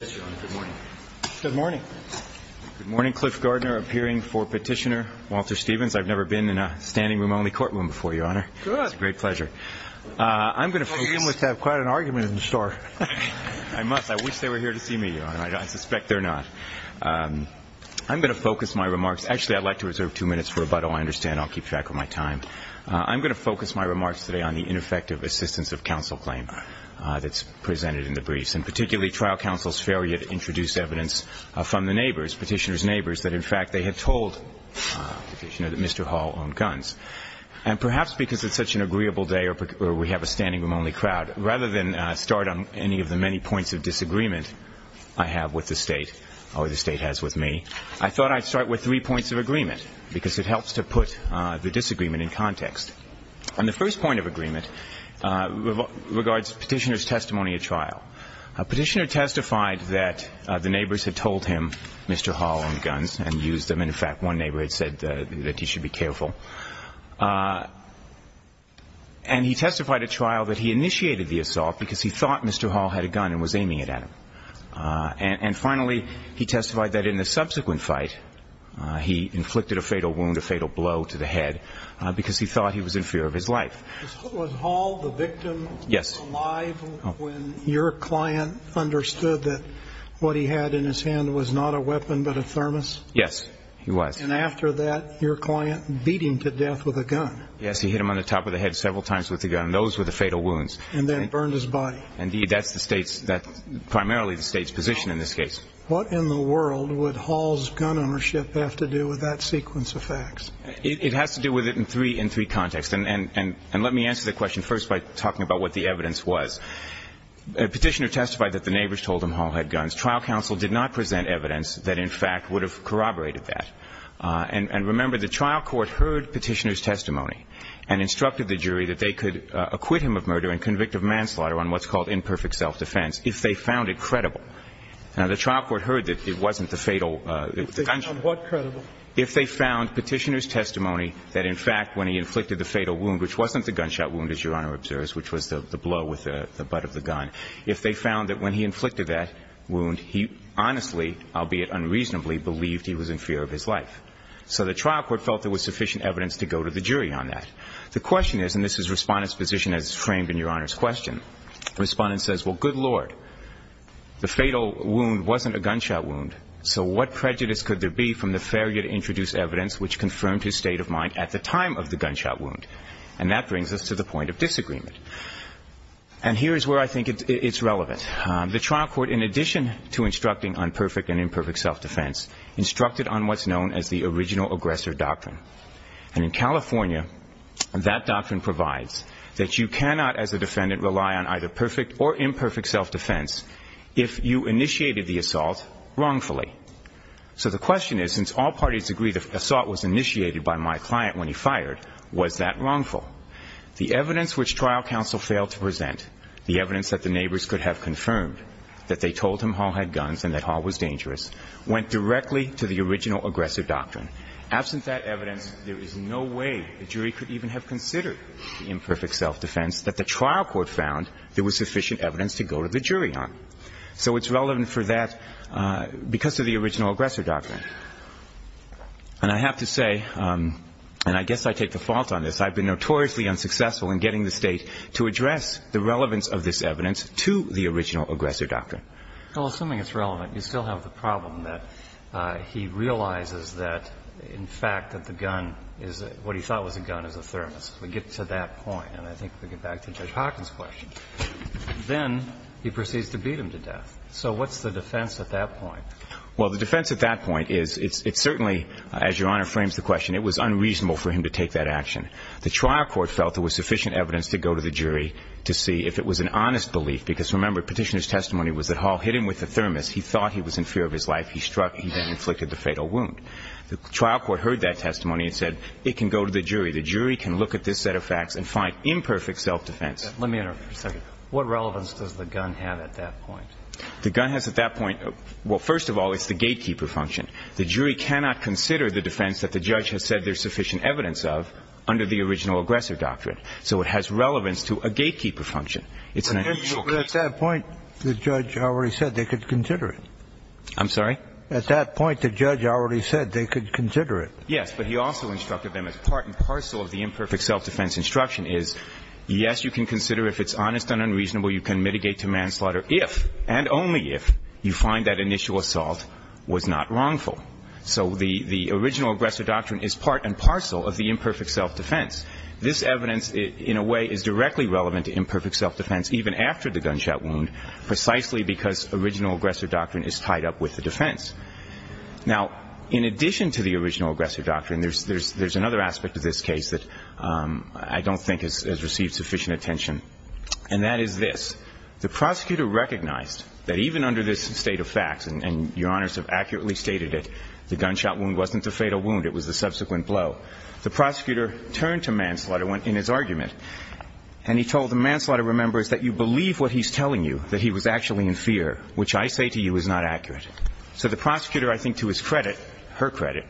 Good morning, Cliff Gardner appearing for Petitioner, Walter Stevens. I've never been in a standing-room-only courtroom before, Your Honor. Good. It's a great pleasure. I'm going to begin with quite an argument in the store. I must. I wish they were here to see me, Your Honor. I suspect they're not. I'm going to focus my remarks. Actually, I'd like to reserve two minutes for rebuttal. I understand I'll keep track of my time. I'm going to focus my remarks today on the ineffective assistance of counsel claim that's presented in the briefs, and particularly trial counsel's failure to introduce evidence from the neighbors, Petitioner's neighbors, that in fact they had told Petitioner that Mr. Hall owned guns. And perhaps because it's such an agreeable day or we have a standing-room-only crowd, rather than start on any of the many points of disagreement I have with the State or the State has with me, I thought I'd start with three points of agreement because it helps to put the disagreement in context. And the first point of agreement regards Petitioner's testimony at trial. Petitioner testified that the neighbors had told him Mr. Hall owned guns and used them. In fact, one neighbor had said that he should be careful. And he testified at trial that he initiated the assault because he thought Mr. Hall had a gun and was aiming it at him. And finally, he testified that in the subsequent fight, he inflicted a fatal wound, a fatal wound that was in fear of his life. Was Hall, the victim, alive when your client understood that what he had in his hand was not a weapon but a thermos? Yes, he was. And after that, your client beat him to death with a gun? Yes, he hit him on the top of the head several times with a gun, and those were the fatal wounds. And then burned his body? Indeed, that's the State's, primarily the State's position in this case. What in the world would Hall's gun ownership have to do with that sequence of facts? It has to do with it in three contexts. And let me answer the question first by talking about what the evidence was. The Petitioner testified that the neighbors told him Hall had guns. Trial counsel did not present evidence that, in fact, would have corroborated that. And remember, the trial court heard Petitioner's testimony and instructed the jury that they could acquit him of murder and convict of manslaughter on what's called imperfect self-defense if they found it credible. Now, the trial court heard that it wasn't the fatal gunshot. On what credible? If they found Petitioner's testimony that, in fact, when he inflicted the fatal wound, which wasn't the gunshot wound, as Your Honor observes, which was the blow with the butt of the gun, if they found that when he inflicted that wound, he honestly, albeit unreasonably, believed he was in fear of his life. So the trial court felt there was sufficient evidence to go to the jury on that. The question is, and this is Respondent's position as framed in Your Honor's question, Respondent says, well, good Lord, the fatal wound wasn't a gunshot wound. So what prejudice could there be from the failure to introduce evidence which confirmed his state of mind at the time of the gunshot wound? And that brings us to the point of disagreement. And here is where I think it's relevant. The trial court, in addition to instructing on perfect and imperfect self-defense, instructed on what's known as the original aggressor doctrine. And in California, that doctrine provides that you cannot, as a defendant, rely on either perfect or So the question is, since all parties agree the assault was initiated by my client when he fired, was that wrongful? The evidence which trial counsel failed to present, the evidence that the neighbors could have confirmed, that they told him Hall had guns and that Hall was dangerous, went directly to the original aggressor doctrine. Absent that evidence, there is no way the jury could even have considered the imperfect self-defense that the trial court found there was sufficient evidence to go to the jury on. So it's relevant for that, because of the original aggressor doctrine. And I have to say, and I guess I take the fault on this, I've been notoriously unsuccessful in getting the state to address the relevance of this evidence to the original aggressor doctrine. Well, assuming it's relevant, you still have the problem that he realizes that, in fact, that the gun is, what he thought was a gun is a thermos. We get to that point, and I think we get back to Judge Hawkins' question. Then, he proceeds to beat him to death. So what's the defense at that point? Well, the defense at that point is, it's certainly, as Your Honor frames the question, it was unreasonable for him to take that action. The trial court felt there was sufficient evidence to go to the jury to see if it was an honest belief, because remember, Petitioner's testimony was that Hall hit him with a thermos. He thought he was in fear of his life. He struck, he then inflicted the fatal wound. The trial court heard that testimony and said, it can go to the jury. The jury can look at this set of facts and find imperfect self-defense. Let me interrupt for a second. What relevance does the gun have at that point? The gun has at that point, well, first of all, it's the gatekeeper function. The jury cannot consider the defense that the judge has said there's sufficient evidence of under the original aggressor doctrine. So it has relevance to a gatekeeper function. It's an unusual case. But at that point, the judge already said they could consider it. I'm sorry? At that point, the judge already said they could consider it. Yes, but he also instructed them as part and parcel of the imperfect self-defense instruction is, yes, you can consider if it's honest and unreasonable, you can mitigate to manslaughter if, and only if, you find that initial assault was not wrongful. So the original aggressor doctrine is part and parcel of the imperfect self-defense. This evidence, in a way, is directly relevant to imperfect self-defense, even after the gunshot wound, precisely because original aggressor doctrine is tied up with the defense. Now, in addition to the original aggressor doctrine, there's another aspect of this case that I don't think has received sufficient attention. And that is this. The prosecutor recognized that even under this state of facts, and Your Honors have accurately stated it, the gunshot wound wasn't the fatal wound. It was the subsequent blow. The prosecutor turned to manslaughter in his argument, and he told the manslaughter, remember, is that you believe what he's telling you, that he was actually in fear, which I say to you is not accurate. So the prosecutor, I think to his credit, her credit,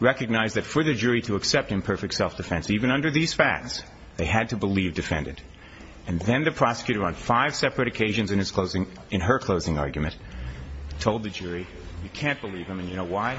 recognized that for the jury to accept imperfect self-defense, even under these facts, they had to believe defendant. And then the prosecutor, on five separate occasions in his closing, in her closing argument, told the jury, you can't believe him, and you know why?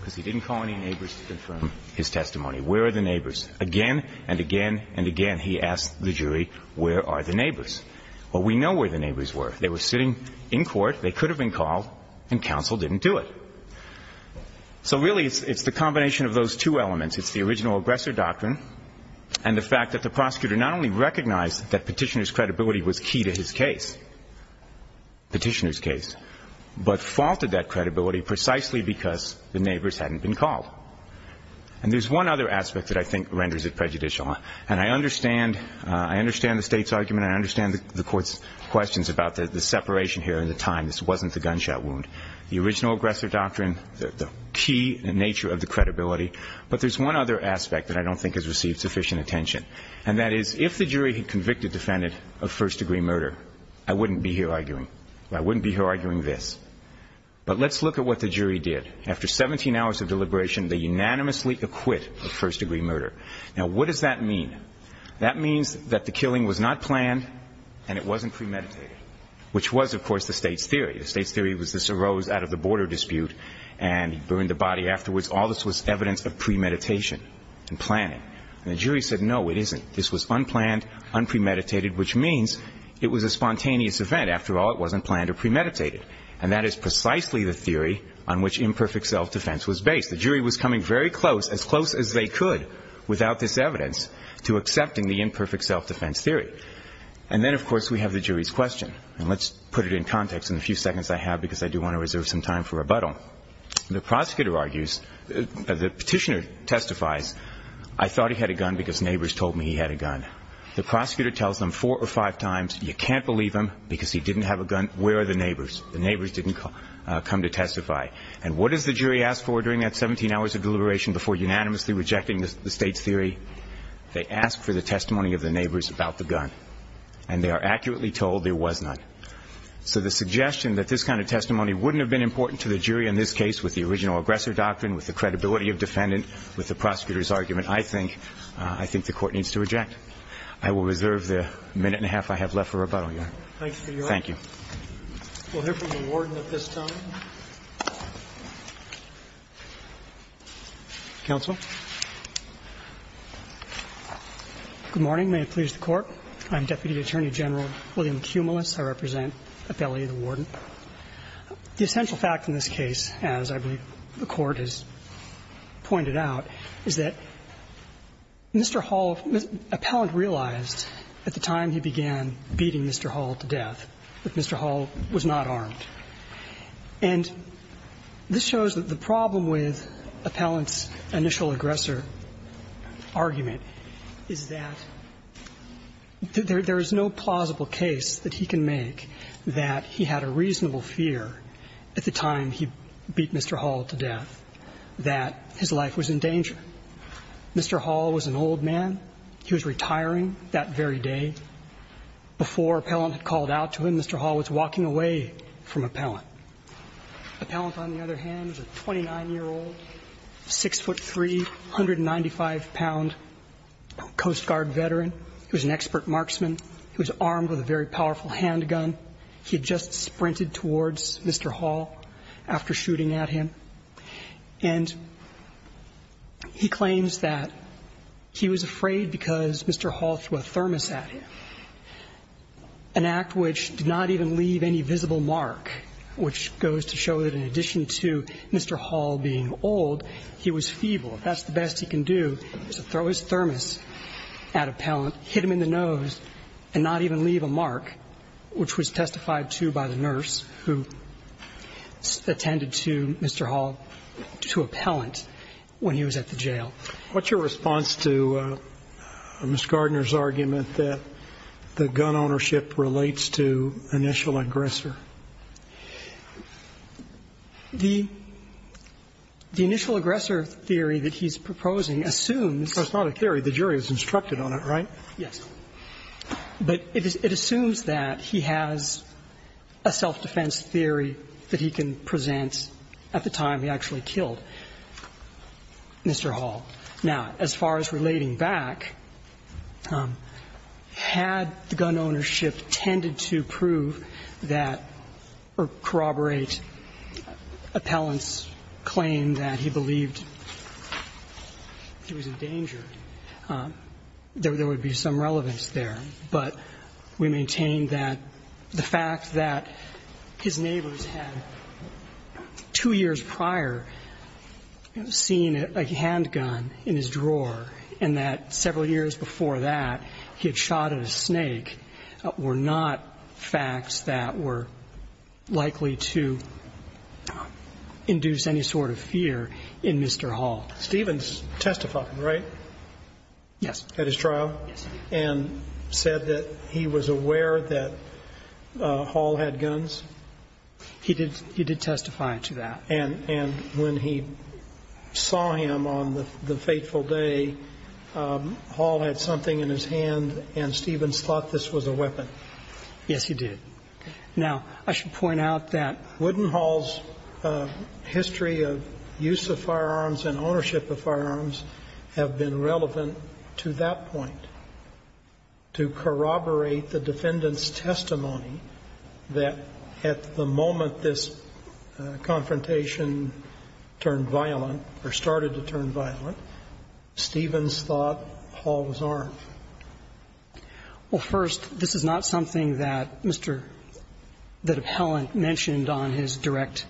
Because he didn't call any neighbors to confirm his testimony. Where are the neighbors? Again and again and again, he asked the jury, where are the neighbors? Well, we know where the neighbors were. They were sitting in court, they could have been called, and counsel didn't do it. So really, it's the combination of those two elements. It's the original aggressor doctrine and the fact that the prosecutor not only recognized that petitioner's credibility was key to his case, petitioner's case, but faulted that credibility precisely because the neighbors hadn't been called. And there's one other aspect that I think renders it prejudicial. And I understand, I understand the state's argument, I understand the court's questions about the separation here and the time, this wasn't the gunshot wound. The original aggressor doctrine, the key nature of the credibility, but there's one other aspect that I don't think has received sufficient attention. And that is, if the jury had convicted the defendant of first-degree murder, I wouldn't be here arguing. I wouldn't be here arguing this. But let's look at what the jury did. After 17 hours of deliberation, they unanimously acquit of first-degree murder. Now, what does that mean? That means that the killing was not planned and it wasn't premeditated, which was, of course, the state's theory. The state's theory was this arose out of the border dispute and burned the body afterwards. All this was evidence of premeditation and planning. And the jury said, no, it isn't. This was unplanned, unpremeditated, which means it was a spontaneous event. After all, it wasn't planned or premeditated. And that is precisely the theory on which imperfect self-defense was based. The jury was coming very close, as close as they could without this evidence, to accepting the imperfect self-defense theory. And then, of course, we have the jury's question. And let's put it in context in the few seconds I have, because I do want to reserve some time for rebuttal. The prosecutor argues, the petitioner testifies, I thought he had a gun because neighbors told me he had a gun. The prosecutor tells them four or five times, you can't believe him because he didn't have a gun. Where are the neighbors? The neighbors didn't come to testify. And what does the jury ask for during that 17 hours of deliberation before unanimously rejecting the state's theory? They ask for the testimony of the neighbors about the gun. And they are accurately told there was none. So the suggestion that this kind of testimony wouldn't have been important to the jury in this case with the original aggressor doctrine, with the credibility of defendant, with the prosecutor's argument, I think the court needs to reject. I will reserve the minute and a half I have left for rebuttal here. Thanks for your time. Thank you. We'll hear from the warden at this time. Counsel. Good morning. May it please the court. I'm Deputy Attorney General William Cumulus. I represent Appellee of the Warden. The essential fact in this case, as I believe the Court has pointed out, is that Mr. Hall, Appellant realized at the time he began beating Mr. Hall to death that Mr. Hall was not armed. And this shows that the problem with Appellant's initial aggressor argument is that there is no plausible case that he can make that he had a reasonable fear at the time he beat Mr. Hall to death that his life was in danger. Mr. Hall was an old man. He was retiring that very day. Before Appellant had called out to him, Mr. Hall was walking away from Appellant. Appellant, on the other hand, was a 29-year-old, 6'3", 195-pound Coast Guard veteran. He was an expert marksman. He was armed with a very powerful handgun. He had just sprinted towards Mr. Hall after shooting at him. And he claims that he was afraid because Mr. Hall threw a thermos at him, an act which did not even leave any visible mark, which goes to show that in addition to Mr. Hall being old, he was feeble. If that's the best he can do is to throw his thermos at Appellant, hit him in the nose, and not even leave a mark, which was testified to by the nurse who attended to Mr. Hall, to Appellant, when he was at the jail. What's your response to Ms. Gardner's argument that the gun ownership relates to initial aggressor? The initial aggressor theory that he's proposing assumes That's not a theory. The jury was instructed on it, right? Yes. But it assumes that he has a self-defense theory that he can present at the time he actually killed Mr. Hall. Now, as far as relating back, had the gun ownership tended to prove that or corroborate Appellant's claim that he believed he was in danger, there would be some relevance there. But we maintain that the fact that his neighbors had, two years prior, seen a handgun in his drawer, and that several years before that, he had shot at a snake, were not facts that were likely to induce any sort of fear in Mr. Hall. Stevens testified, right? Yes. At his trial? Yes. And said that he was aware that Hall had guns? He did testify to that. And when he saw him on the fateful day, Hall had something in his hand, and Stevens thought this was a weapon? Yes, he did. Now, I should point out that Wooden Hall's history of use of firearms and ownership of firearms have been relevant to that point, to corroborate the defendant's claim that, in the time that this confrontation turned violent, or started to turn violent, Stevens thought Hall was armed. Well, first, this is not something that Mr. — that Appellant mentioned on his direct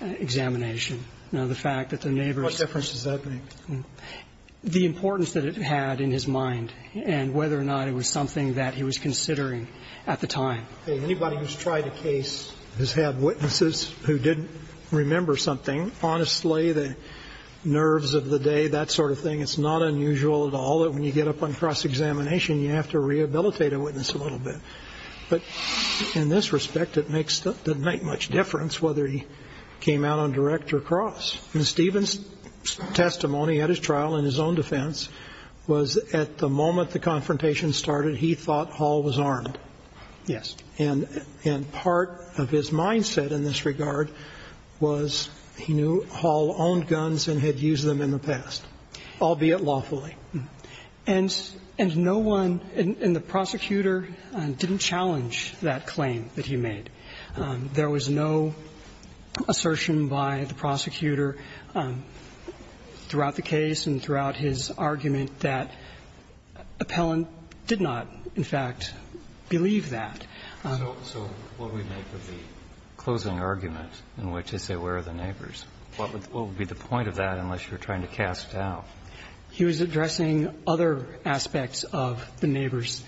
examination. Now, the fact that their neighbors – What difference does that make? The importance that it had in his mind and whether or not it was something that he was considering at the time. Okay. Anybody who's tried a case has had witnesses who didn't remember something. Honestly, the nerves of the day, that sort of thing, it's not unusual at all that when you get up on cross-examination, you have to rehabilitate a witness a little bit. But in this respect, it doesn't make much difference whether he came out on direct or cross. And Stevens' testimony at his trial, in his own defense, was at the moment the confrontation started, he thought Hall was armed. Yes. And part of his mindset in this regard was he knew Hall owned guns and had used them in the past, albeit lawfully. And no one in the prosecutor didn't challenge that claim that he made. There was no assertion by the prosecutor throughout the case and throughout his argument that Appellant did not, in fact, believe that. So what would we make of the closing argument in which they say, where are the neighbors? What would be the point of that unless you're trying to cast doubt? He was addressing other aspects of the neighbors.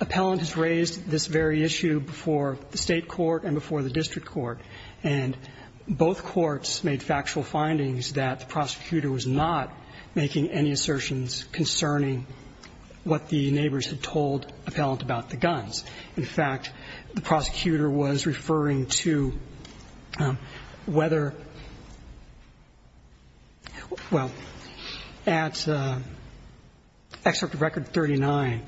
Appellant has raised this very issue before the State court and before the district court. And both courts made factual findings that the prosecutor was not making any assertions concerning what the neighbors had told Appellant about the guns. In fact, the prosecutor was referring to whether – well, at Excerpt of Record 39,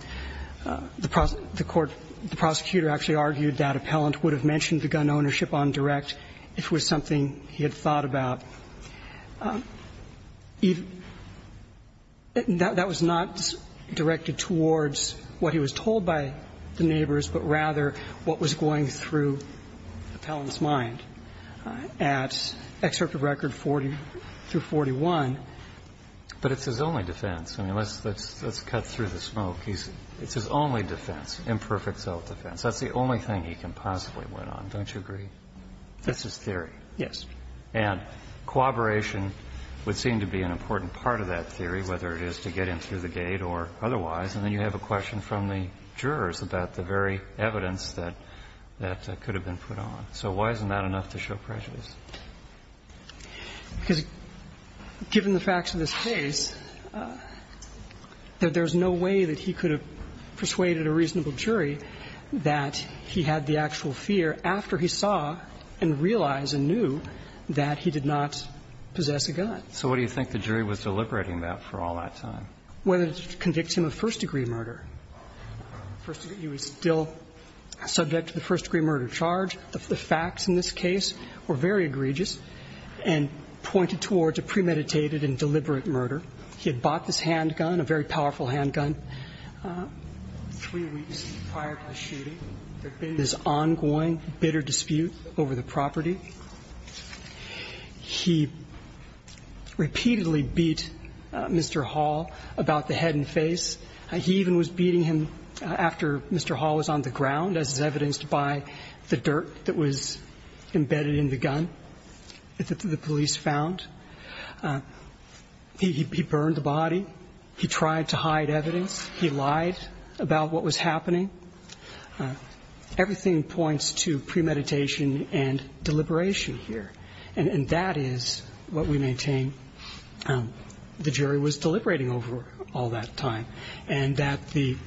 the court – the prosecutor actually argued that Appellant would have mentioned the gun ownership on direct if it was something he had thought about. That was not directed towards what he was told by the neighbors, but rather what was going through Appellant's mind at Excerpt of Record 40 through 41. But it's his only defense. I mean, let's cut through the smoke. It's his only defense, imperfect self-defense. That's the only thing he can possibly win on, don't you agree? That's his theory. Yes. And cooperation would seem to be an important part of that theory, whether it is to get him through the gate or otherwise. And then you have a question from the jurors about the very evidence that could have been put on. So why isn't that enough to show prejudice? Well, I think it's important to point out that in the case of Appellant, he had a reasonable jury that he had the actual fear after he saw and realized and knew that he did not possess a gun. So what do you think the jury was deliberating about for all that time? Whether to convict him of first-degree murder. He was still subject to the first-degree murder charge. The facts in this case were very egregious and pointed towards a premeditated and deliberate murder. He had bought this handgun, a very powerful handgun, three weeks prior to the shooting. There'd been this ongoing, bitter dispute over the property. He repeatedly beat Mr. Hall about the head and face. He even was beating him after Mr. Hall was on the ground, as is evidenced by the dirt that was embedded in the gun that the police found. He burned the body. He tried to hide evidence. He lied about what was happening. Everything points to premeditation and deliberation here. And that is what we maintain the jury was deliberating over all that time. And that his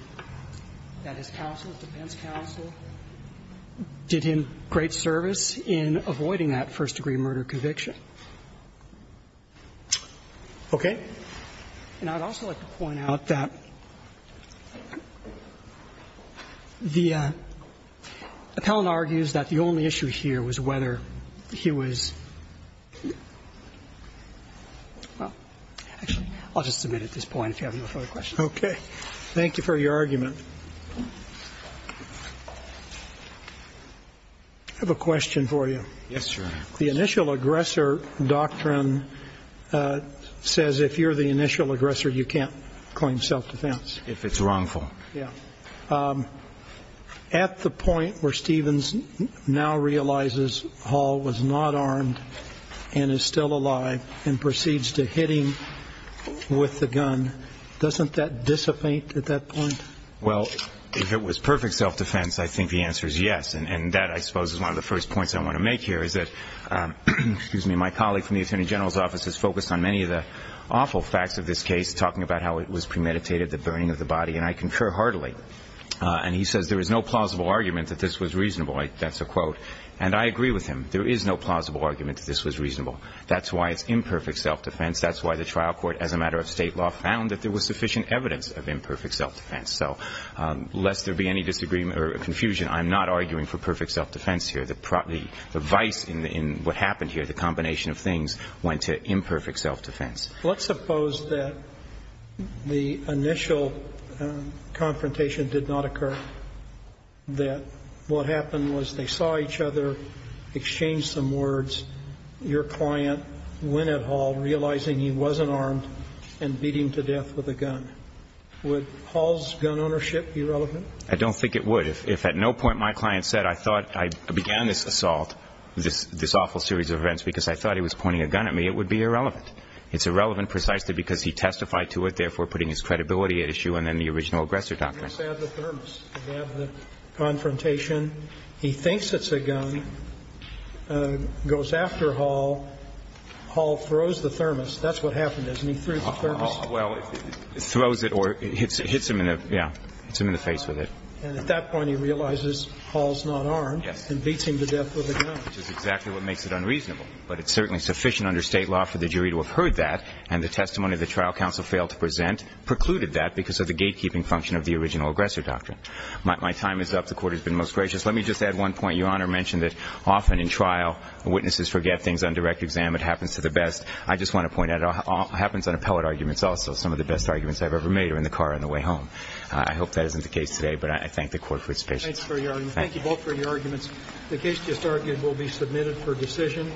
counsel, defense counsel, did him great service in avoiding that first-degree murder conviction. Okay? And I'd also like to point out that the appellant argues that the only issue here was whether he was well, actually, I'll just submit at this point if you have no further questions. Okay. Thank you for your argument. I have a question for you. Yes, sir. The initial aggressor doctrine says if you're the initial aggressor, you can't claim self-defense. If it's wrongful. Yeah. At the point where Stevens now realizes Hall was not armed and is still alive and proceeds to hit him with the gun, doesn't that dissipate at that point? Well, if it was perfect self-defense, I think the answer is yes. And that, I suppose, is one of the first points I want to make here is that my colleague from the attorney general's office has focused on many of the awful facts of this case, talking about how it was premeditated, the burning of the body. And I concur heartily. And he says there is no plausible argument that this was reasonable. That's a quote. And I agree with him. There is no plausible argument that this was reasonable. That's why it's imperfect self-defense. That's why the trial court, as a matter of state law, found that there was sufficient evidence of imperfect self-defense. So lest there be any disagreement or confusion, I'm not arguing for perfect self-defense here. The vice in what happened here, the combination of things, went to imperfect self-defense. Let's suppose that the initial confrontation did not occur, that what happened was they saw each other, exchanged some words, your client went at Hall, realizing he wasn't armed, and beat him to death with a gun. Would Hall's gun ownership be relevant? I don't think it would. If at no point my client said I thought I began this assault, this awful series of events, because I thought he was pointing a gun at me, it would be irrelevant. It's irrelevant precisely because he testified to it, therefore putting his credibility at issue and then the original aggressor doctrine. He just had the thermos. He had the confrontation. He thinks it's a gun, goes after Hall. That's what happened, isn't he? He threw the thermos. Well, throws it or hits him in the face with it. And at that point he realizes Hall's not armed and beats him to death with a gun. Which is exactly what makes it unreasonable. But it's certainly sufficient under State law for the jury to have heard that, and the testimony the trial counsel failed to present precluded that because of the gatekeeping function of the original aggressor doctrine. My time is up. The Court has been most gracious. Let me just add one point. Your Honor mentioned that often in trial, witnesses forget things on direct exam. It happens to the best. I just want to point out it all happens on appellate arguments. Also, some of the best arguments I've ever made are in the car on the way home. I hope that isn't the case today, but I thank the Court for its patience. Thank you both for your arguments. The case just argued will be submitted for decision.